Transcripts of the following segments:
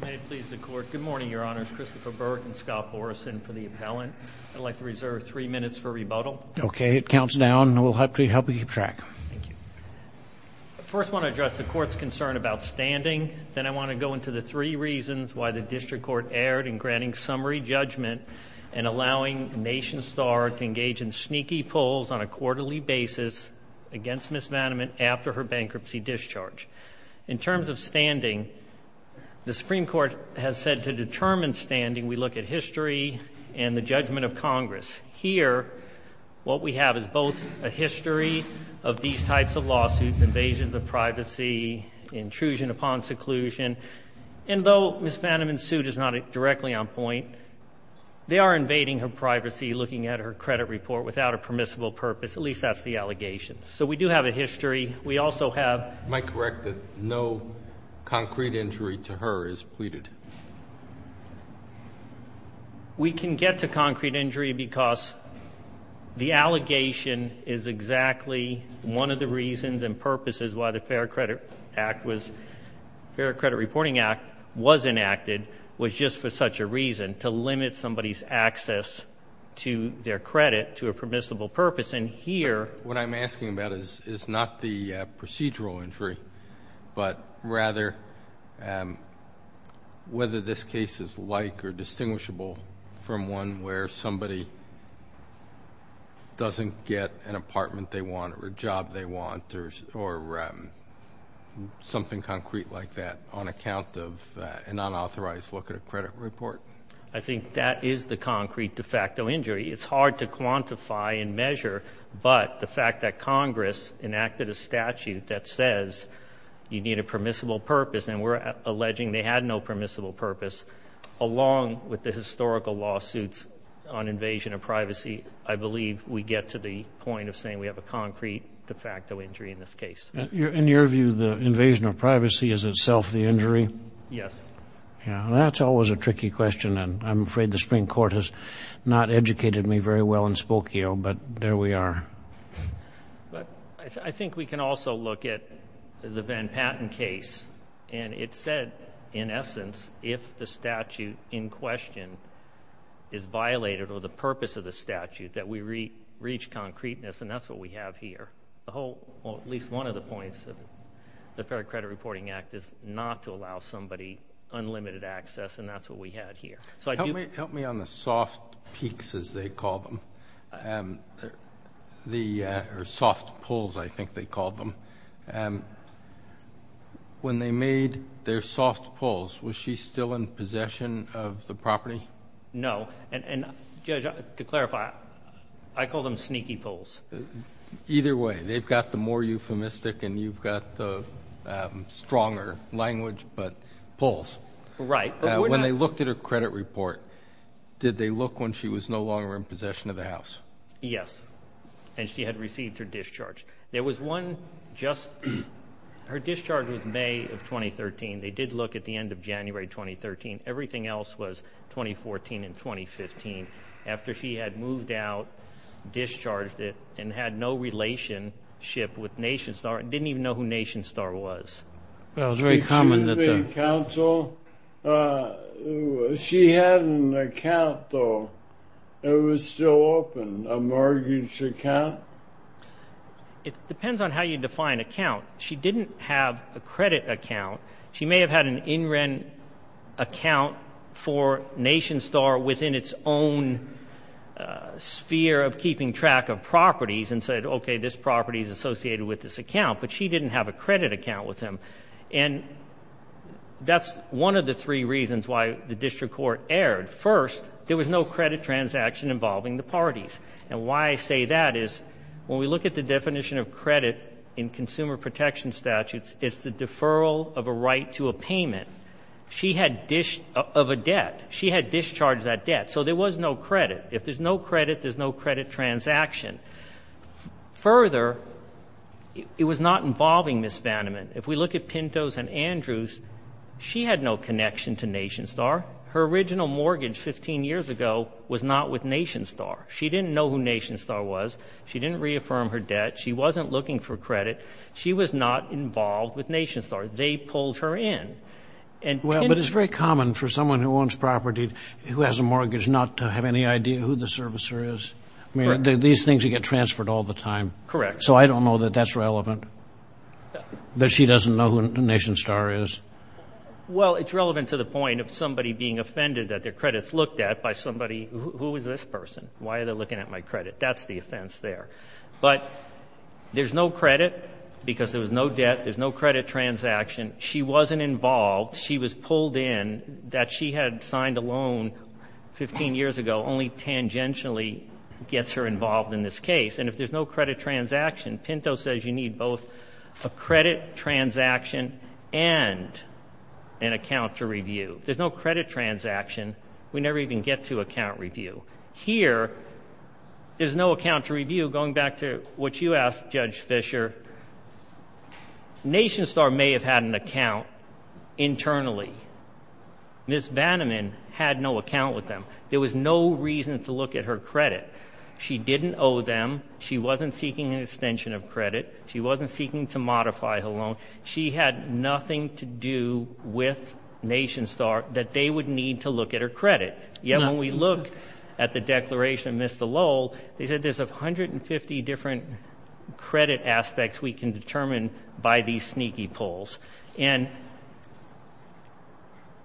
May it please the Court. Good morning, Your Honors. Christopher Burke and Scott Morrison for the appellant. I'd like to reserve three minutes for rebuttal. Okay, it counts down. We'll hopefully help you keep track. First, I want to address the Court's concern about standing. Then I want to go into the three reasons why the District Court erred in granting summary judgment and allowing NationStar to engage in sneaky pulls on a quarterly basis against Ms. Vanamann after her Supreme Court has said to determine standing, we look at history and the judgment of Congress. Here, what we have is both a history of these types of lawsuits, invasions of privacy, intrusion upon seclusion, and though Ms. Vanamann's suit is not directly on point, they are invading her privacy looking at her credit report without a permissible purpose, at least that's the allegation. So we do have a history. We also have... You might correct that no concrete injury to her is pleaded. We can get to concrete injury because the allegation is exactly one of the reasons and purposes why the Fair Credit Reporting Act was enacted was just for such a reason, to limit somebody's access to their credit to a permissible purpose. And here, what I'm asking about is not the whether this case is like or distinguishable from one where somebody doesn't get an apartment they want or a job they want or something concrete like that on account of an unauthorized look at a credit report. I think that is the concrete de facto injury. It's hard to quantify and measure, but the fact that Congress enacted a statute that says you need a permissible purpose and we're alleging they had no permissible purpose, along with the historical lawsuits on invasion of privacy, I believe we get to the point of saying we have a concrete de facto injury in this case. In your view, the invasion of privacy is itself the injury? Yes. Yeah, that's always a tricky question and I'm afraid the Supreme Court has not educated me very well in Spokio, but there we are. But I think we can also look at the Van Patten case and it said in essence if the statute in question is violated or the purpose of the statute that we reach concreteness and that's what we have here. At least one of the points of the Fair Credit Reporting Act is not to allow somebody unlimited access and that's what we had here. Help me on the soft peaks as they call them, or soft pulls I think they call them. When they made their soft pulls, was she still in possession of the property? No. And Judge, to clarify, I call them sneaky pulls. Either way, they've got the more euphemistic and you've got the stronger language, but pulls. Right. When they looked at her Yes. And she had received her discharge. There was one just, her discharge was May of 2013. They did look at the end of January 2013. Everything else was 2014 and 2015. After she had moved out, discharged it, and had no relationship with Nation Star, and didn't even know who Nation Star was. Well, it was very common that the... She had an account though. It was still open. A mortgage account. It depends on how you define account. She didn't have a credit account. She may have had an in-rent account for Nation Star within its own sphere of keeping track of properties and said, okay this property is associated with this account, but she didn't have a credit account with him. And that's one of the three reasons why the district court erred. First, there was no credit transaction involving the parties. And why I say that is, when we look at the definition of credit in consumer protection statutes, it's the deferral of a right to a payment. She had dish... of a debt. She had discharged that debt. So there was no credit. If there's no credit, there's no credit transaction. Further, it was not involving Ms. Vandeman. If we look at Pintos and Andrews, she had no connection to Nation Star. Her original mortgage 15 years ago was not with Nation Star. She didn't know who Nation Star was. She didn't reaffirm her debt. She wasn't looking for credit. She was not involved with Nation Star. They pulled her in. And... Well, but it's very common for someone who owns property, who has a mortgage, not to have any idea who the servicer is. I mean, these things you get transferred all the time. Correct. So I don't know that that's relevant. That she doesn't know who somebody being offended that their credits looked at by somebody, who is this person? Why are they looking at my credit? That's the offense there. But there's no credit because there was no debt. There's no credit transaction. She wasn't involved. She was pulled in. That she had signed a loan 15 years ago only tangentially gets her involved in this case. And if there's no credit transaction, Pinto says you need both a credit transaction and an account to review. There's no credit transaction. We never even get to account review. Here there's no account to review. Going back to what you asked, Judge Fischer, Nation Star may have had an account internally. Ms. Vanneman had no account with them. There was no reason to look at her credit. She didn't owe them. She wasn't seeking an extension of credit. She wasn't seeking to modify her loan. She had nothing to do with Nation Star that they would need to look at her credit. Yet when we look at the declaration of Ms. DeLull, they said there's a hundred and fifty different credit aspects we can determine by these sneaky polls. And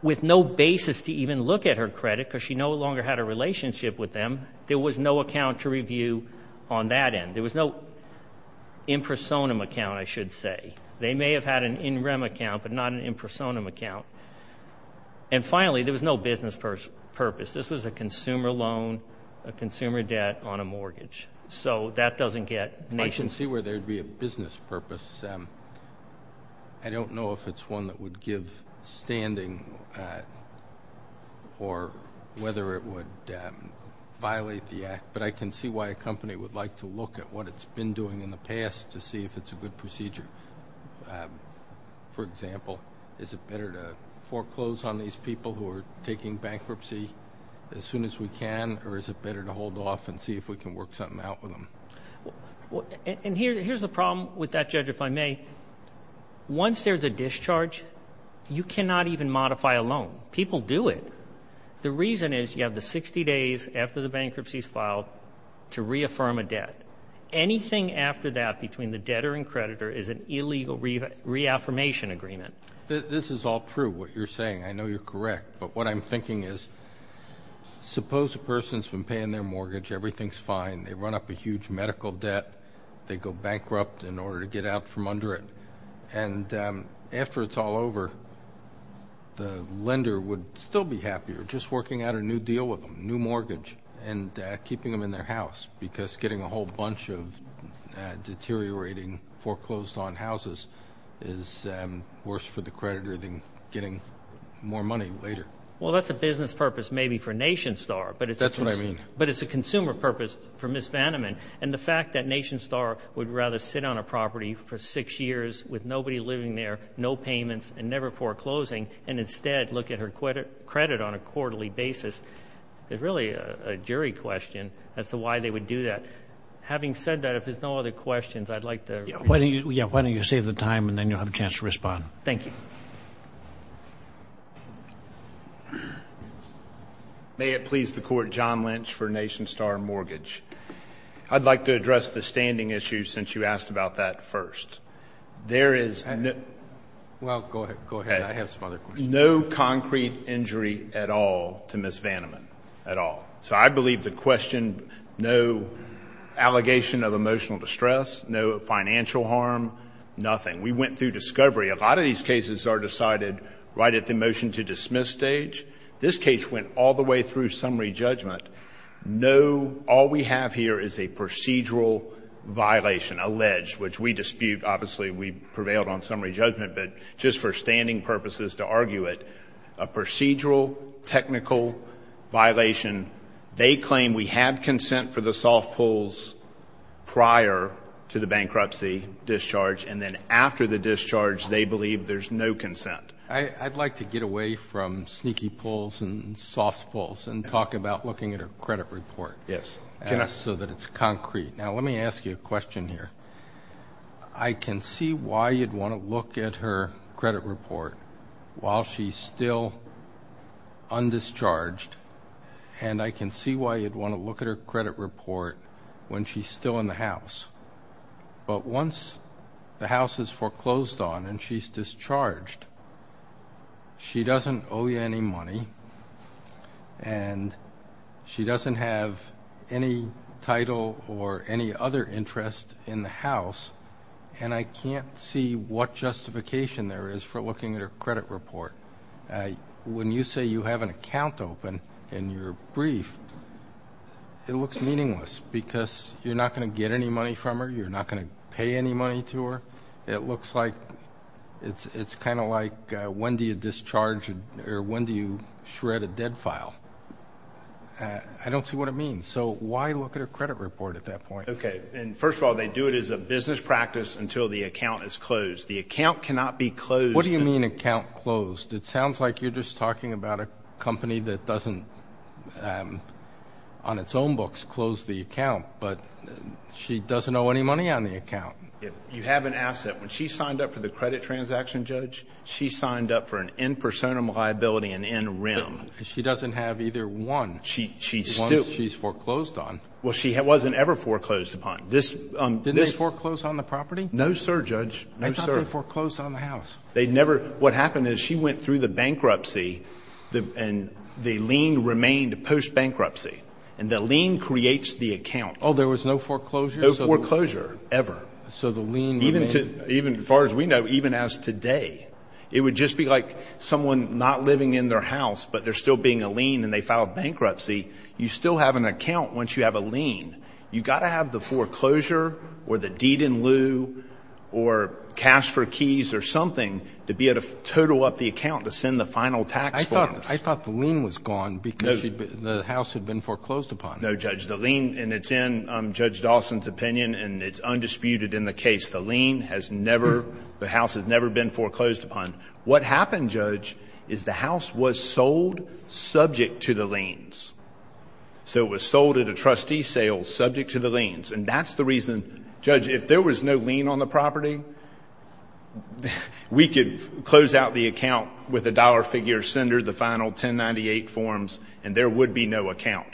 with no basis to even look at her credit because she no longer had a relationship with them, there was no account to review on that end. There was no in-personam account, I should say. They may have had an in-rem account, but not an in-personam account. And finally, there was no business purpose. This was a consumer loan, a consumer debt on a mortgage. So that doesn't get Nation Star... I can see where there'd be a business purpose. I don't know if it's one that would give standing or whether it would violate the act, but I can see why a company would like to look at what it's been doing in the past to see if it's a good procedure. For example, is it better to foreclose on these people who are taking bankruptcy as soon as we can or is it better to hold off and see if we can work something out with them? And here's the problem with that, Judge, if I may. Once there's a discharge, you cannot even modify a loan. People do it. The reason is you have the 60 days after the bankruptcy is filed to reaffirm a debt. Anything after that between the debtor and creditor is an illegal reaffirmation agreement. This is all true, what you're saying. I know you're correct, but what I'm thinking is suppose a person's been paying their mortgage, everything's fine, they run up a huge medical debt, they go bankrupt in order to get out from under it, and after it's all over, the lender would still be happier just working out a new deal with them, new mortgage, and keeping them in their house because getting a whole bunch of deteriorating foreclosed on houses is worse for the creditor than getting more money later. Well, that's a business purpose maybe for Nation Star. That's what I mean. But it's a consumer purpose for Ms. Vanneman, and the fact that Nation Star would rather sit on a property for six years with nobody living there, no payments, and never foreclosing, and instead look at her credit on a quarterly basis is really a jury question as to why they would do that. Having said that, if there's no other questions, I'd like to... Yeah, why don't you save the time, and then you'll have a chance to respond. Thank you. May it please the Court, John Lynch for Nation Star Mortgage. I'd like to address the standing issue since you asked about that first. There is no concrete injury at all to Ms. Vanneman, at all. So I believe the question, no allegation of emotional distress, no financial harm, nothing. We went through discovery. A lot of these cases are decided right at the motion-to-dismiss stage. This case went all the way through summary judgment. No, all we have here is a procedural violation, alleged, which we dispute. Obviously, we prevailed on summary judgment, but just for standing purposes to argue it, a procedural technical violation. They claim we had consent for the soft pulls prior to the bankruptcy discharge, and then after the discharge, they believe there's no consent. I'd like to get away from sneaky pulls and soft pulls and talk about looking at her credit report, so that it's concrete. Now, let me ask you a question here. I can see why you'd want to look at her credit report while she's still undischarged, and I can see why you'd want to look at her credit report when she's still in the house. But once the house is foreclosed on and she's charged, she doesn't owe you any money, and she doesn't have any title or any other interest in the house, and I can't see what justification there is for looking at her credit report. When you say you have an account open in your brief, it looks meaningless because you're not going to get any money from her. You're not going to pay any money to her. It looks like it's kind of like, when do you discharge or when do you shred a dead file? I don't see what it means, so why look at her credit report at that point? Okay, and first of all, they do it as a business practice until the account is closed. The account cannot be closed. What do you mean account closed? It sounds like you're just talking about a company that doesn't, on its own books, close the account, but she doesn't owe any money on the account. You haven't asked that. When she signed up for the credit transaction, Judge, she signed up for an in personam liability, an in rem. She doesn't have either one. She's still. Once she's foreclosed on. Well, she wasn't ever foreclosed upon. Did they foreclose on the property? No, sir, Judge. No, sir. They thought they foreclosed on the house. They never. What happened is she went through the bankruptcy, and the lien remained post-bankruptcy, and the lien creates the account. Oh, there was no foreclosure? No foreclosure ever. So the lien remained? Even as far as we know, even as today. It would just be like someone not living in their house, but there's still being a lien, and they filed bankruptcy. You still have an account once you have a lien. You've got to have the foreclosure or the deed in lieu or cash for keys or something to be able to total up the account to send the final tax forms. I thought the lien was gone because the house had been foreclosed upon. No, Judge. The lien, and it's in Judge Dawson's opinion, and it's undisputed in the case. The house has never been foreclosed upon. What happened, Judge, is the house was sold subject to the liens. So it was sold at a trustee sale subject to the liens, and that's the reason, Judge, if there was no lien on the property, we could close out the account with a dollar figure, send her the final 1098 forms, and there would be no account.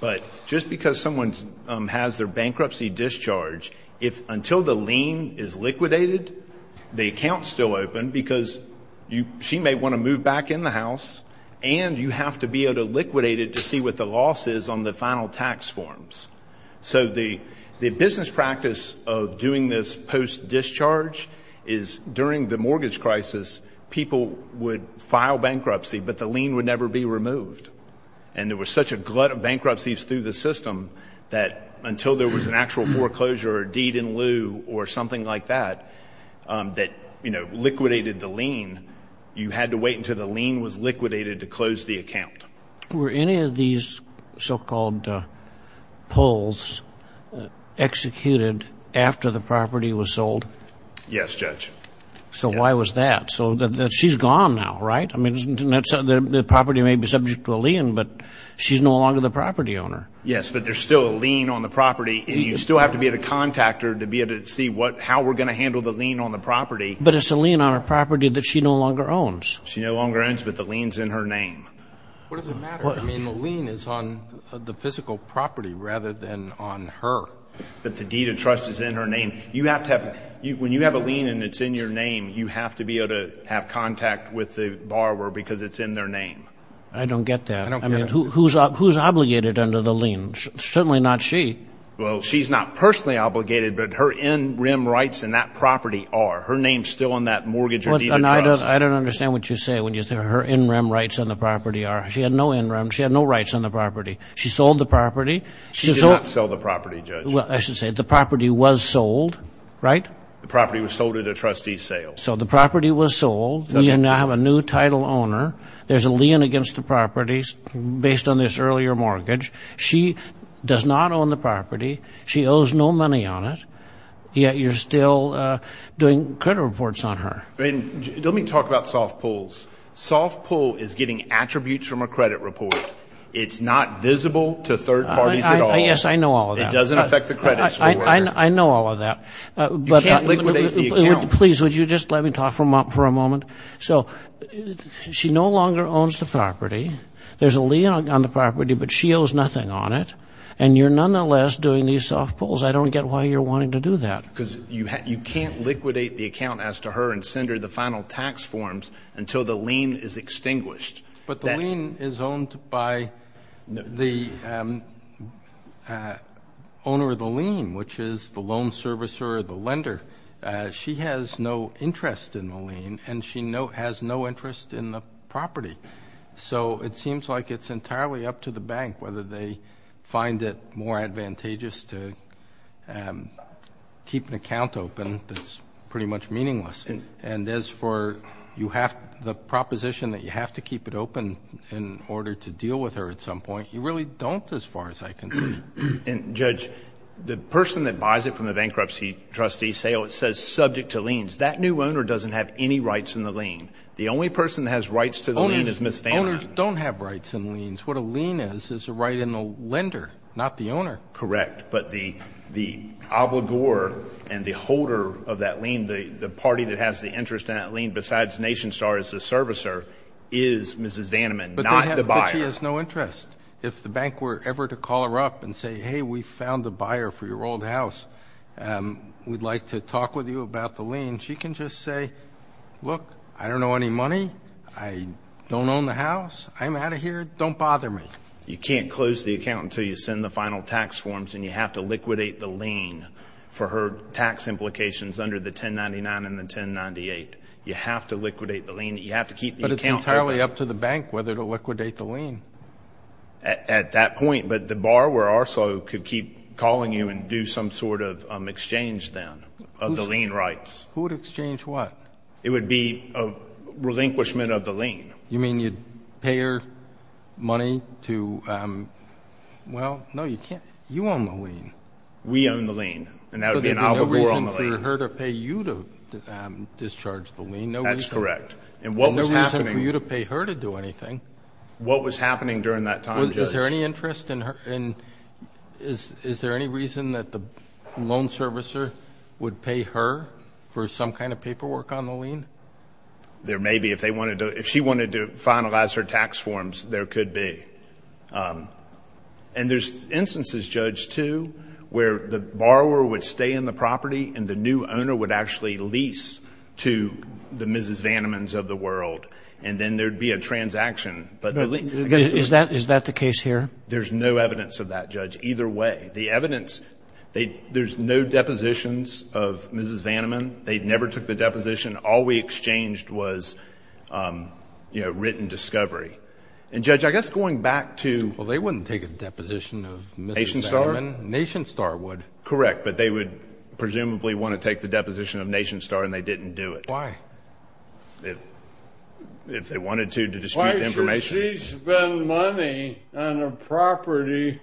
But just because someone has their bankruptcy discharge, if until the lien is liquidated, the account's still open because she may want to move back in the house, and you have to be able to liquidate it to see what the loss is on the final tax forms. So the business practice of doing this post-discharge is during the mortgage crisis, people would file bankruptcy, but the lien would never be removed. And there was such a glut of bankruptcies through the system that until there was an actual foreclosure or deed in lieu or something like that that, you know, liquidated the lien, you had to wait until the lien was liquidated to close the account. Were any of these so-called pulls executed after the property was sold? Yes, Judge. So why was that? So she's gone now, right? I mean, the property may be subject to a lien, but she's no longer the property owner. Yes, but there's still a lien on the property, and you still have to be at a contactor to be able to see what, how we're going to handle the lien on the property. But it's a lien on her property that she no longer owns. She no longer owns, but the lien's in her name. What does it matter? I mean, the lien is on the physical property rather than on her. But the deed of trust is in her name. You have to have, when you have a lien and it's in your name, you have to be able to have contact with the borrower because it's in their name. I don't get that. I mean, who's obligated under the lien? Certainly not she. Well, she's not personally obligated, but her in-rim rights in that property are. Her name's still on that mortgage or deed of trust. I don't understand what you say when you say her in-rim rights on the property are. She had no in-rim. She had no rights on the property. She sold the property. She did not sell the property, Judge. Well, I should say the property was sold, right? The trustee's sale. So the property was sold. You now have a new title owner. There's a lien against the property based on this earlier mortgage. She does not own the property. She owes no money on it, yet you're still doing credit reports on her. I mean, let me talk about soft pulls. Soft pull is getting attributes from a credit report. It's not visible to third parties at all. Yes, I know all of that. It Please, would you just let me talk for a moment? So she no longer owns the property. There's a lien on the property, but she owes nothing on it, and you're nonetheless doing these soft pulls. I don't get why you're wanting to do that. Because you can't liquidate the account as to her and send her the final tax forms until the lien is extinguished. But the lien is owned by the owner of the lien, which is the loan servicer or the lender. She has no interest in the lien, and she has no interest in the property. So it seems like it's entirely up to the bank whether they find it more advantageous to keep an account open that's pretty much meaningless. And as for the proposition that you have to keep it open in order to deal with her at some point, you really don't as far as I know. The person that buys it from the bankruptcy trustee says it's subject to liens. That new owner doesn't have any rights in the lien. The only person that has rights to the lien is Ms. Vanneman. Owners don't have rights in liens. What a lien is, is a right in the lender, not the owner. Correct, but the obligor and the holder of that lien, the party that has the interest in that lien besides NationStar as the servicer, is Mrs. Vanneman, not the buyer. But she has no interest. If the bank were ever to call her up and say, hey, we found a buyer for your old house. We'd like to talk with you about the lien. She can just say, look, I don't know any money. I don't own the house. I'm out of here. Don't bother me. You can't close the account until you send the final tax forms, and you have to liquidate the lien for her tax implications under the 1099 and the 1098. You have to liquidate the lien. You have to keep the account open. But it's entirely up to the bank whether to do that or not. That's a point, but the borrower also could keep calling you and do some sort of exchange then of the lien rights. Who would exchange what? It would be a relinquishment of the lien. You mean you'd pay her money to, well, no, you can't. You own the lien. We own the lien, and that would be an obligor on the lien. So there'd be no reason for her to pay you to discharge the lien. That's correct. And what was happening. No reason for you to pay her to do anything. What was the interest? Is there any reason that the loan servicer would pay her for some kind of paperwork on the lien? There may be. If she wanted to finalize her tax forms, there could be. And there's instances, Judge, too, where the borrower would stay in the property, and the new owner would actually lease to the Mrs. There's no evidence of that, Judge, either way. The evidence, there's no depositions of Mrs. Vanneman. They never took the deposition. All we exchanged was written discovery. And Judge, I guess going back to. Well, they wouldn't take a deposition of Mrs. Vanneman. Nation Star would. Correct, but they would presumably want to take the deposition of Nation Star, and they didn't do it. Why? If they wanted to, to dispute the information. Why should she spend money on a property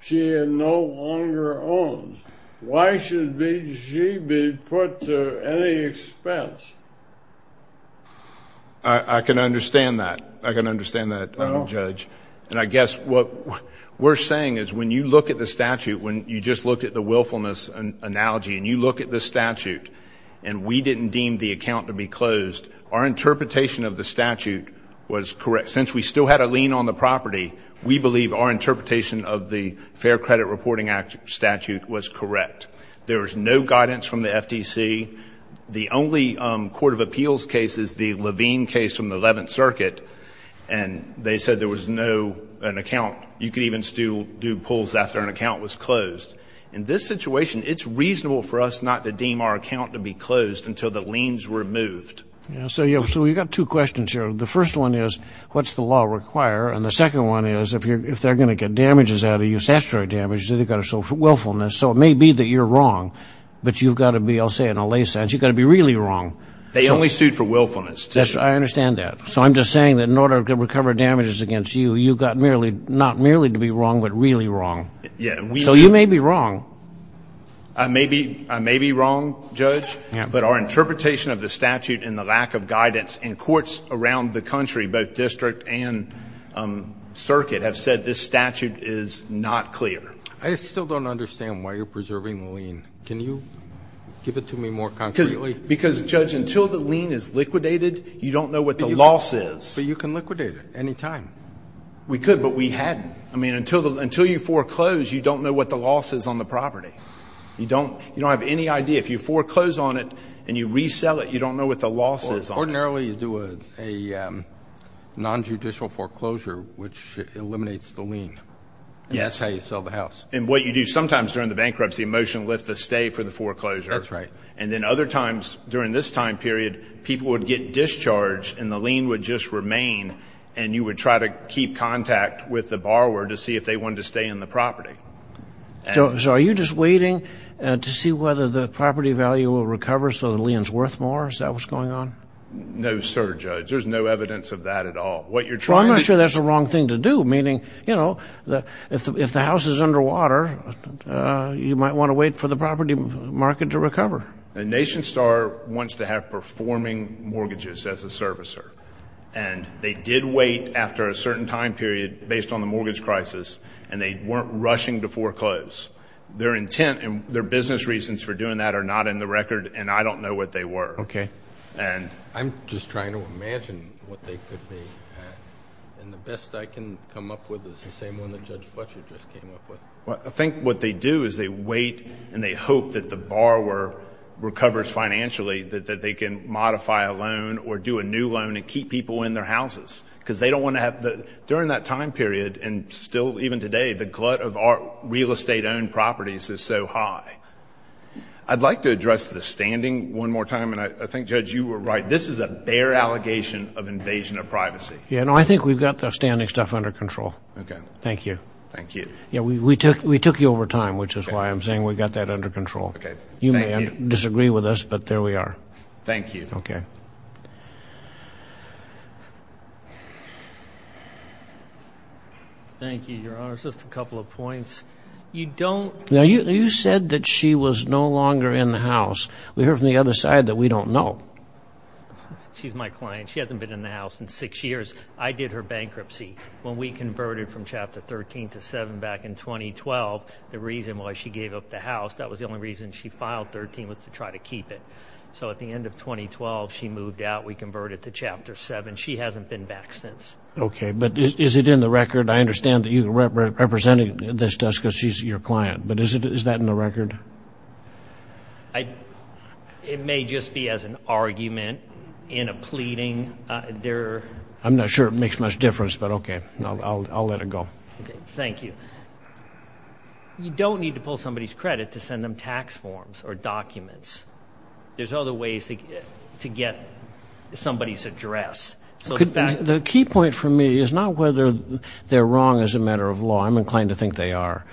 she no longer owns? Why should she be put to any expense? I can understand that. I can understand that, Judge. And I guess what we're saying is when you look at the statute, when you just looked at the willfulness analogy, and you look at the statute, and we didn't deem the account to be closed, our interpretation of the statute was correct. Since we still had a lien on the property, we believe our interpretation of the Fair Credit Reporting Act statute was correct. There was no guidance from the FTC. The only court of appeals case is the Levine case from the 11th Circuit, and they said there was no account. You could even still do pulls after an account was closed. In this situation, it's reasonable for us not to deem our account to be closed until the liens were moved. So we've got two questions here. The first one is, what's the law require? And the second one is, if they're going to get damages out of you, statutory damages, they've got to sue for willfulness. So it may be that you're wrong, but you've got to be, I'll say in a lay sense, you've got to be really wrong. They only sued for willfulness. I understand that. So I'm just saying that in order to recover damages against you, you've got not merely to be wrong, but really wrong. Yeah. So you may be wrong. I may be wrong, Judge, but our interpretation of the statute and the lack of guidance in courts around the country, both district and circuit, have said this statute is not clear. I still don't understand why you're preserving the lien. Can you give it to me more concretely? Because, Judge, until the lien is liquidated, you don't know what the loss is. But you can liquidate it any time. We could, but we hadn't. I mean, until you foreclose, you don't know what the loss is on the property. You don't have any idea. If you foreclose on it and you resell it, you don't know what the loss is on it. Ordinarily, you do a nonjudicial foreclosure, which eliminates the lien. That's how you sell the house. And what you do sometimes during the bankruptcy, a motion lifts a stay for the foreclosure. That's right. And then other times during this time period, people would get discharged and the lien would just remain, and you would try to keep contact with the foreclosure if they wanted to stay in the property. So are you just waiting to see whether the property value will recover so the lien's worth more? Is that what's going on? No, sir, Judge. There's no evidence of that at all. What you're trying to... Well, I'm not sure that's the wrong thing to do. Meaning, you know, if the house is underwater, you might want to wait for the property market to recover. And NationStar wants to have performing mortgages as a servicer. And they did wait after a certain time period based on the mortgage crisis, and they weren't rushing to foreclose. Their intent and their business reasons for doing that are not in the record, and I don't know what they were. Okay. And... I'm just trying to imagine what they could be. And the best I can come up with is the same one that Judge Fletcher just came up with. Well, I think what they do is they wait and they hope that the borrower recovers financially, that they can modify a loan or do a new loan and keep people in their houses. Because they don't want to during that time period, and still even today, the glut of real estate-owned properties is so high. I'd like to address the standing one more time, and I think, Judge, you were right. This is a bare allegation of invasion of privacy. Yeah, no, I think we've got the standing stuff under control. Okay. Thank you. Thank you. Yeah, we took you over time, which is why I'm saying we've got that under control. Okay. You may disagree with us, but there we are. Thank you. Okay. Thank you, Your Honor. Just a couple of points. You don't... Now, you said that she was no longer in the house. We heard from the other side that we don't know. She's my client. She hasn't been in the house in six years. I did her bankruptcy. When we converted from Chapter 13 to 7 back in 2012, the reason why she gave up the house, that was the only reason she filed 13, was to try to keep it. So at the end of 2012, she moved out. We converted to Chapter 7. She hasn't been back since. Okay. But is it in the record? I understand that you're representing this just because she's your client, but is that in the record? It may just be as an argument in a pleading. I'm not sure it makes much difference, but okay. I'll let it go. Okay. Thank you. You don't need to pull somebody's credit to send them tax forms or documents. There's other ways to get somebody's address. The key point for me is not whether they're wrong as a matter of law. I'm inclined to think they are.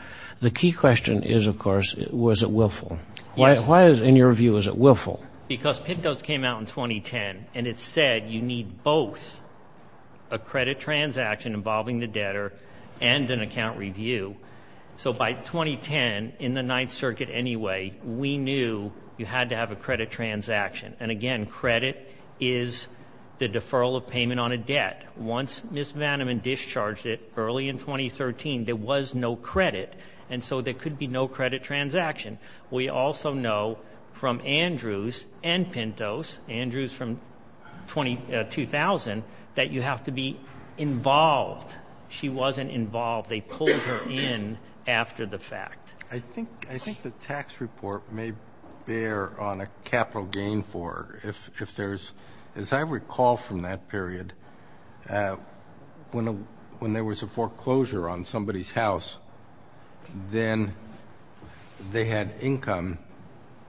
The key question is, of course, was it willful? Why, in your view, is it willful? Because PITDOS came out in 2010, and it said you need both a credit transaction involving the debtor and an account review. So by 2010, in the Ninth Circuit anyway, we knew you had to have a credit transaction. And again, credit is the deferral of payment on a debt. Once Ms. Vandeman discharged it early in 2013, there was no credit, and so there could be no credit transaction. We also know from Andrews and PITDOS, Andrews from 2000, that you have to be involved. She wasn't involved. They pulled her in after the fact. I think the tax report may bear on a capital gain for her. If there's, as I recall from that period, when there was a foreclosure on somebody's house, then they had income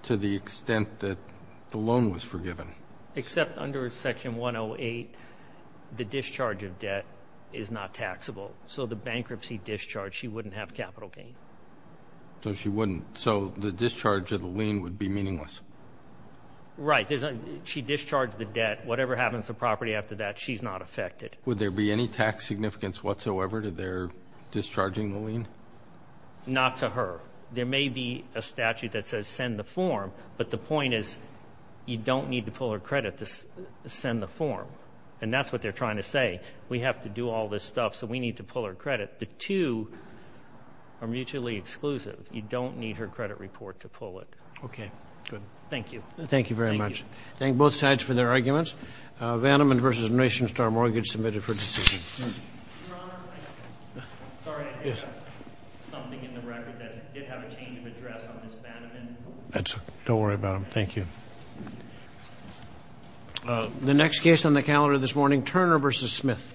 to the extent that the loan was forgiven. Except under Section 108, the discharge of debt is not taxable. So the bankruptcy discharge, she wouldn't have capital gain. So she wouldn't. So the discharge of the lien would be meaningless. Right. She discharged the debt. Whatever happens to property after that, she's not affected. Would there be any tax significance whatsoever to their discharging the lien? Not to her. There may be a statute that says send the form, but the point is, you don't need to pull her credit to send the form. And that's what they're trying to say. We have to do all this stuff, so we need to pull her credit. The two are mutually exclusive. You don't need her credit report to pull it. Okay. Good. Thank you. Thank you very much. Thank both sides for their arguments. Vandermond v. Nation Star Mortgage submitted for decision. Your Honor, I have something in the record that did have a change of address on Ms. Vandermond. That's okay. Don't worry about it. Thank you. The next case on the calendar this morning, Turner v. Smith.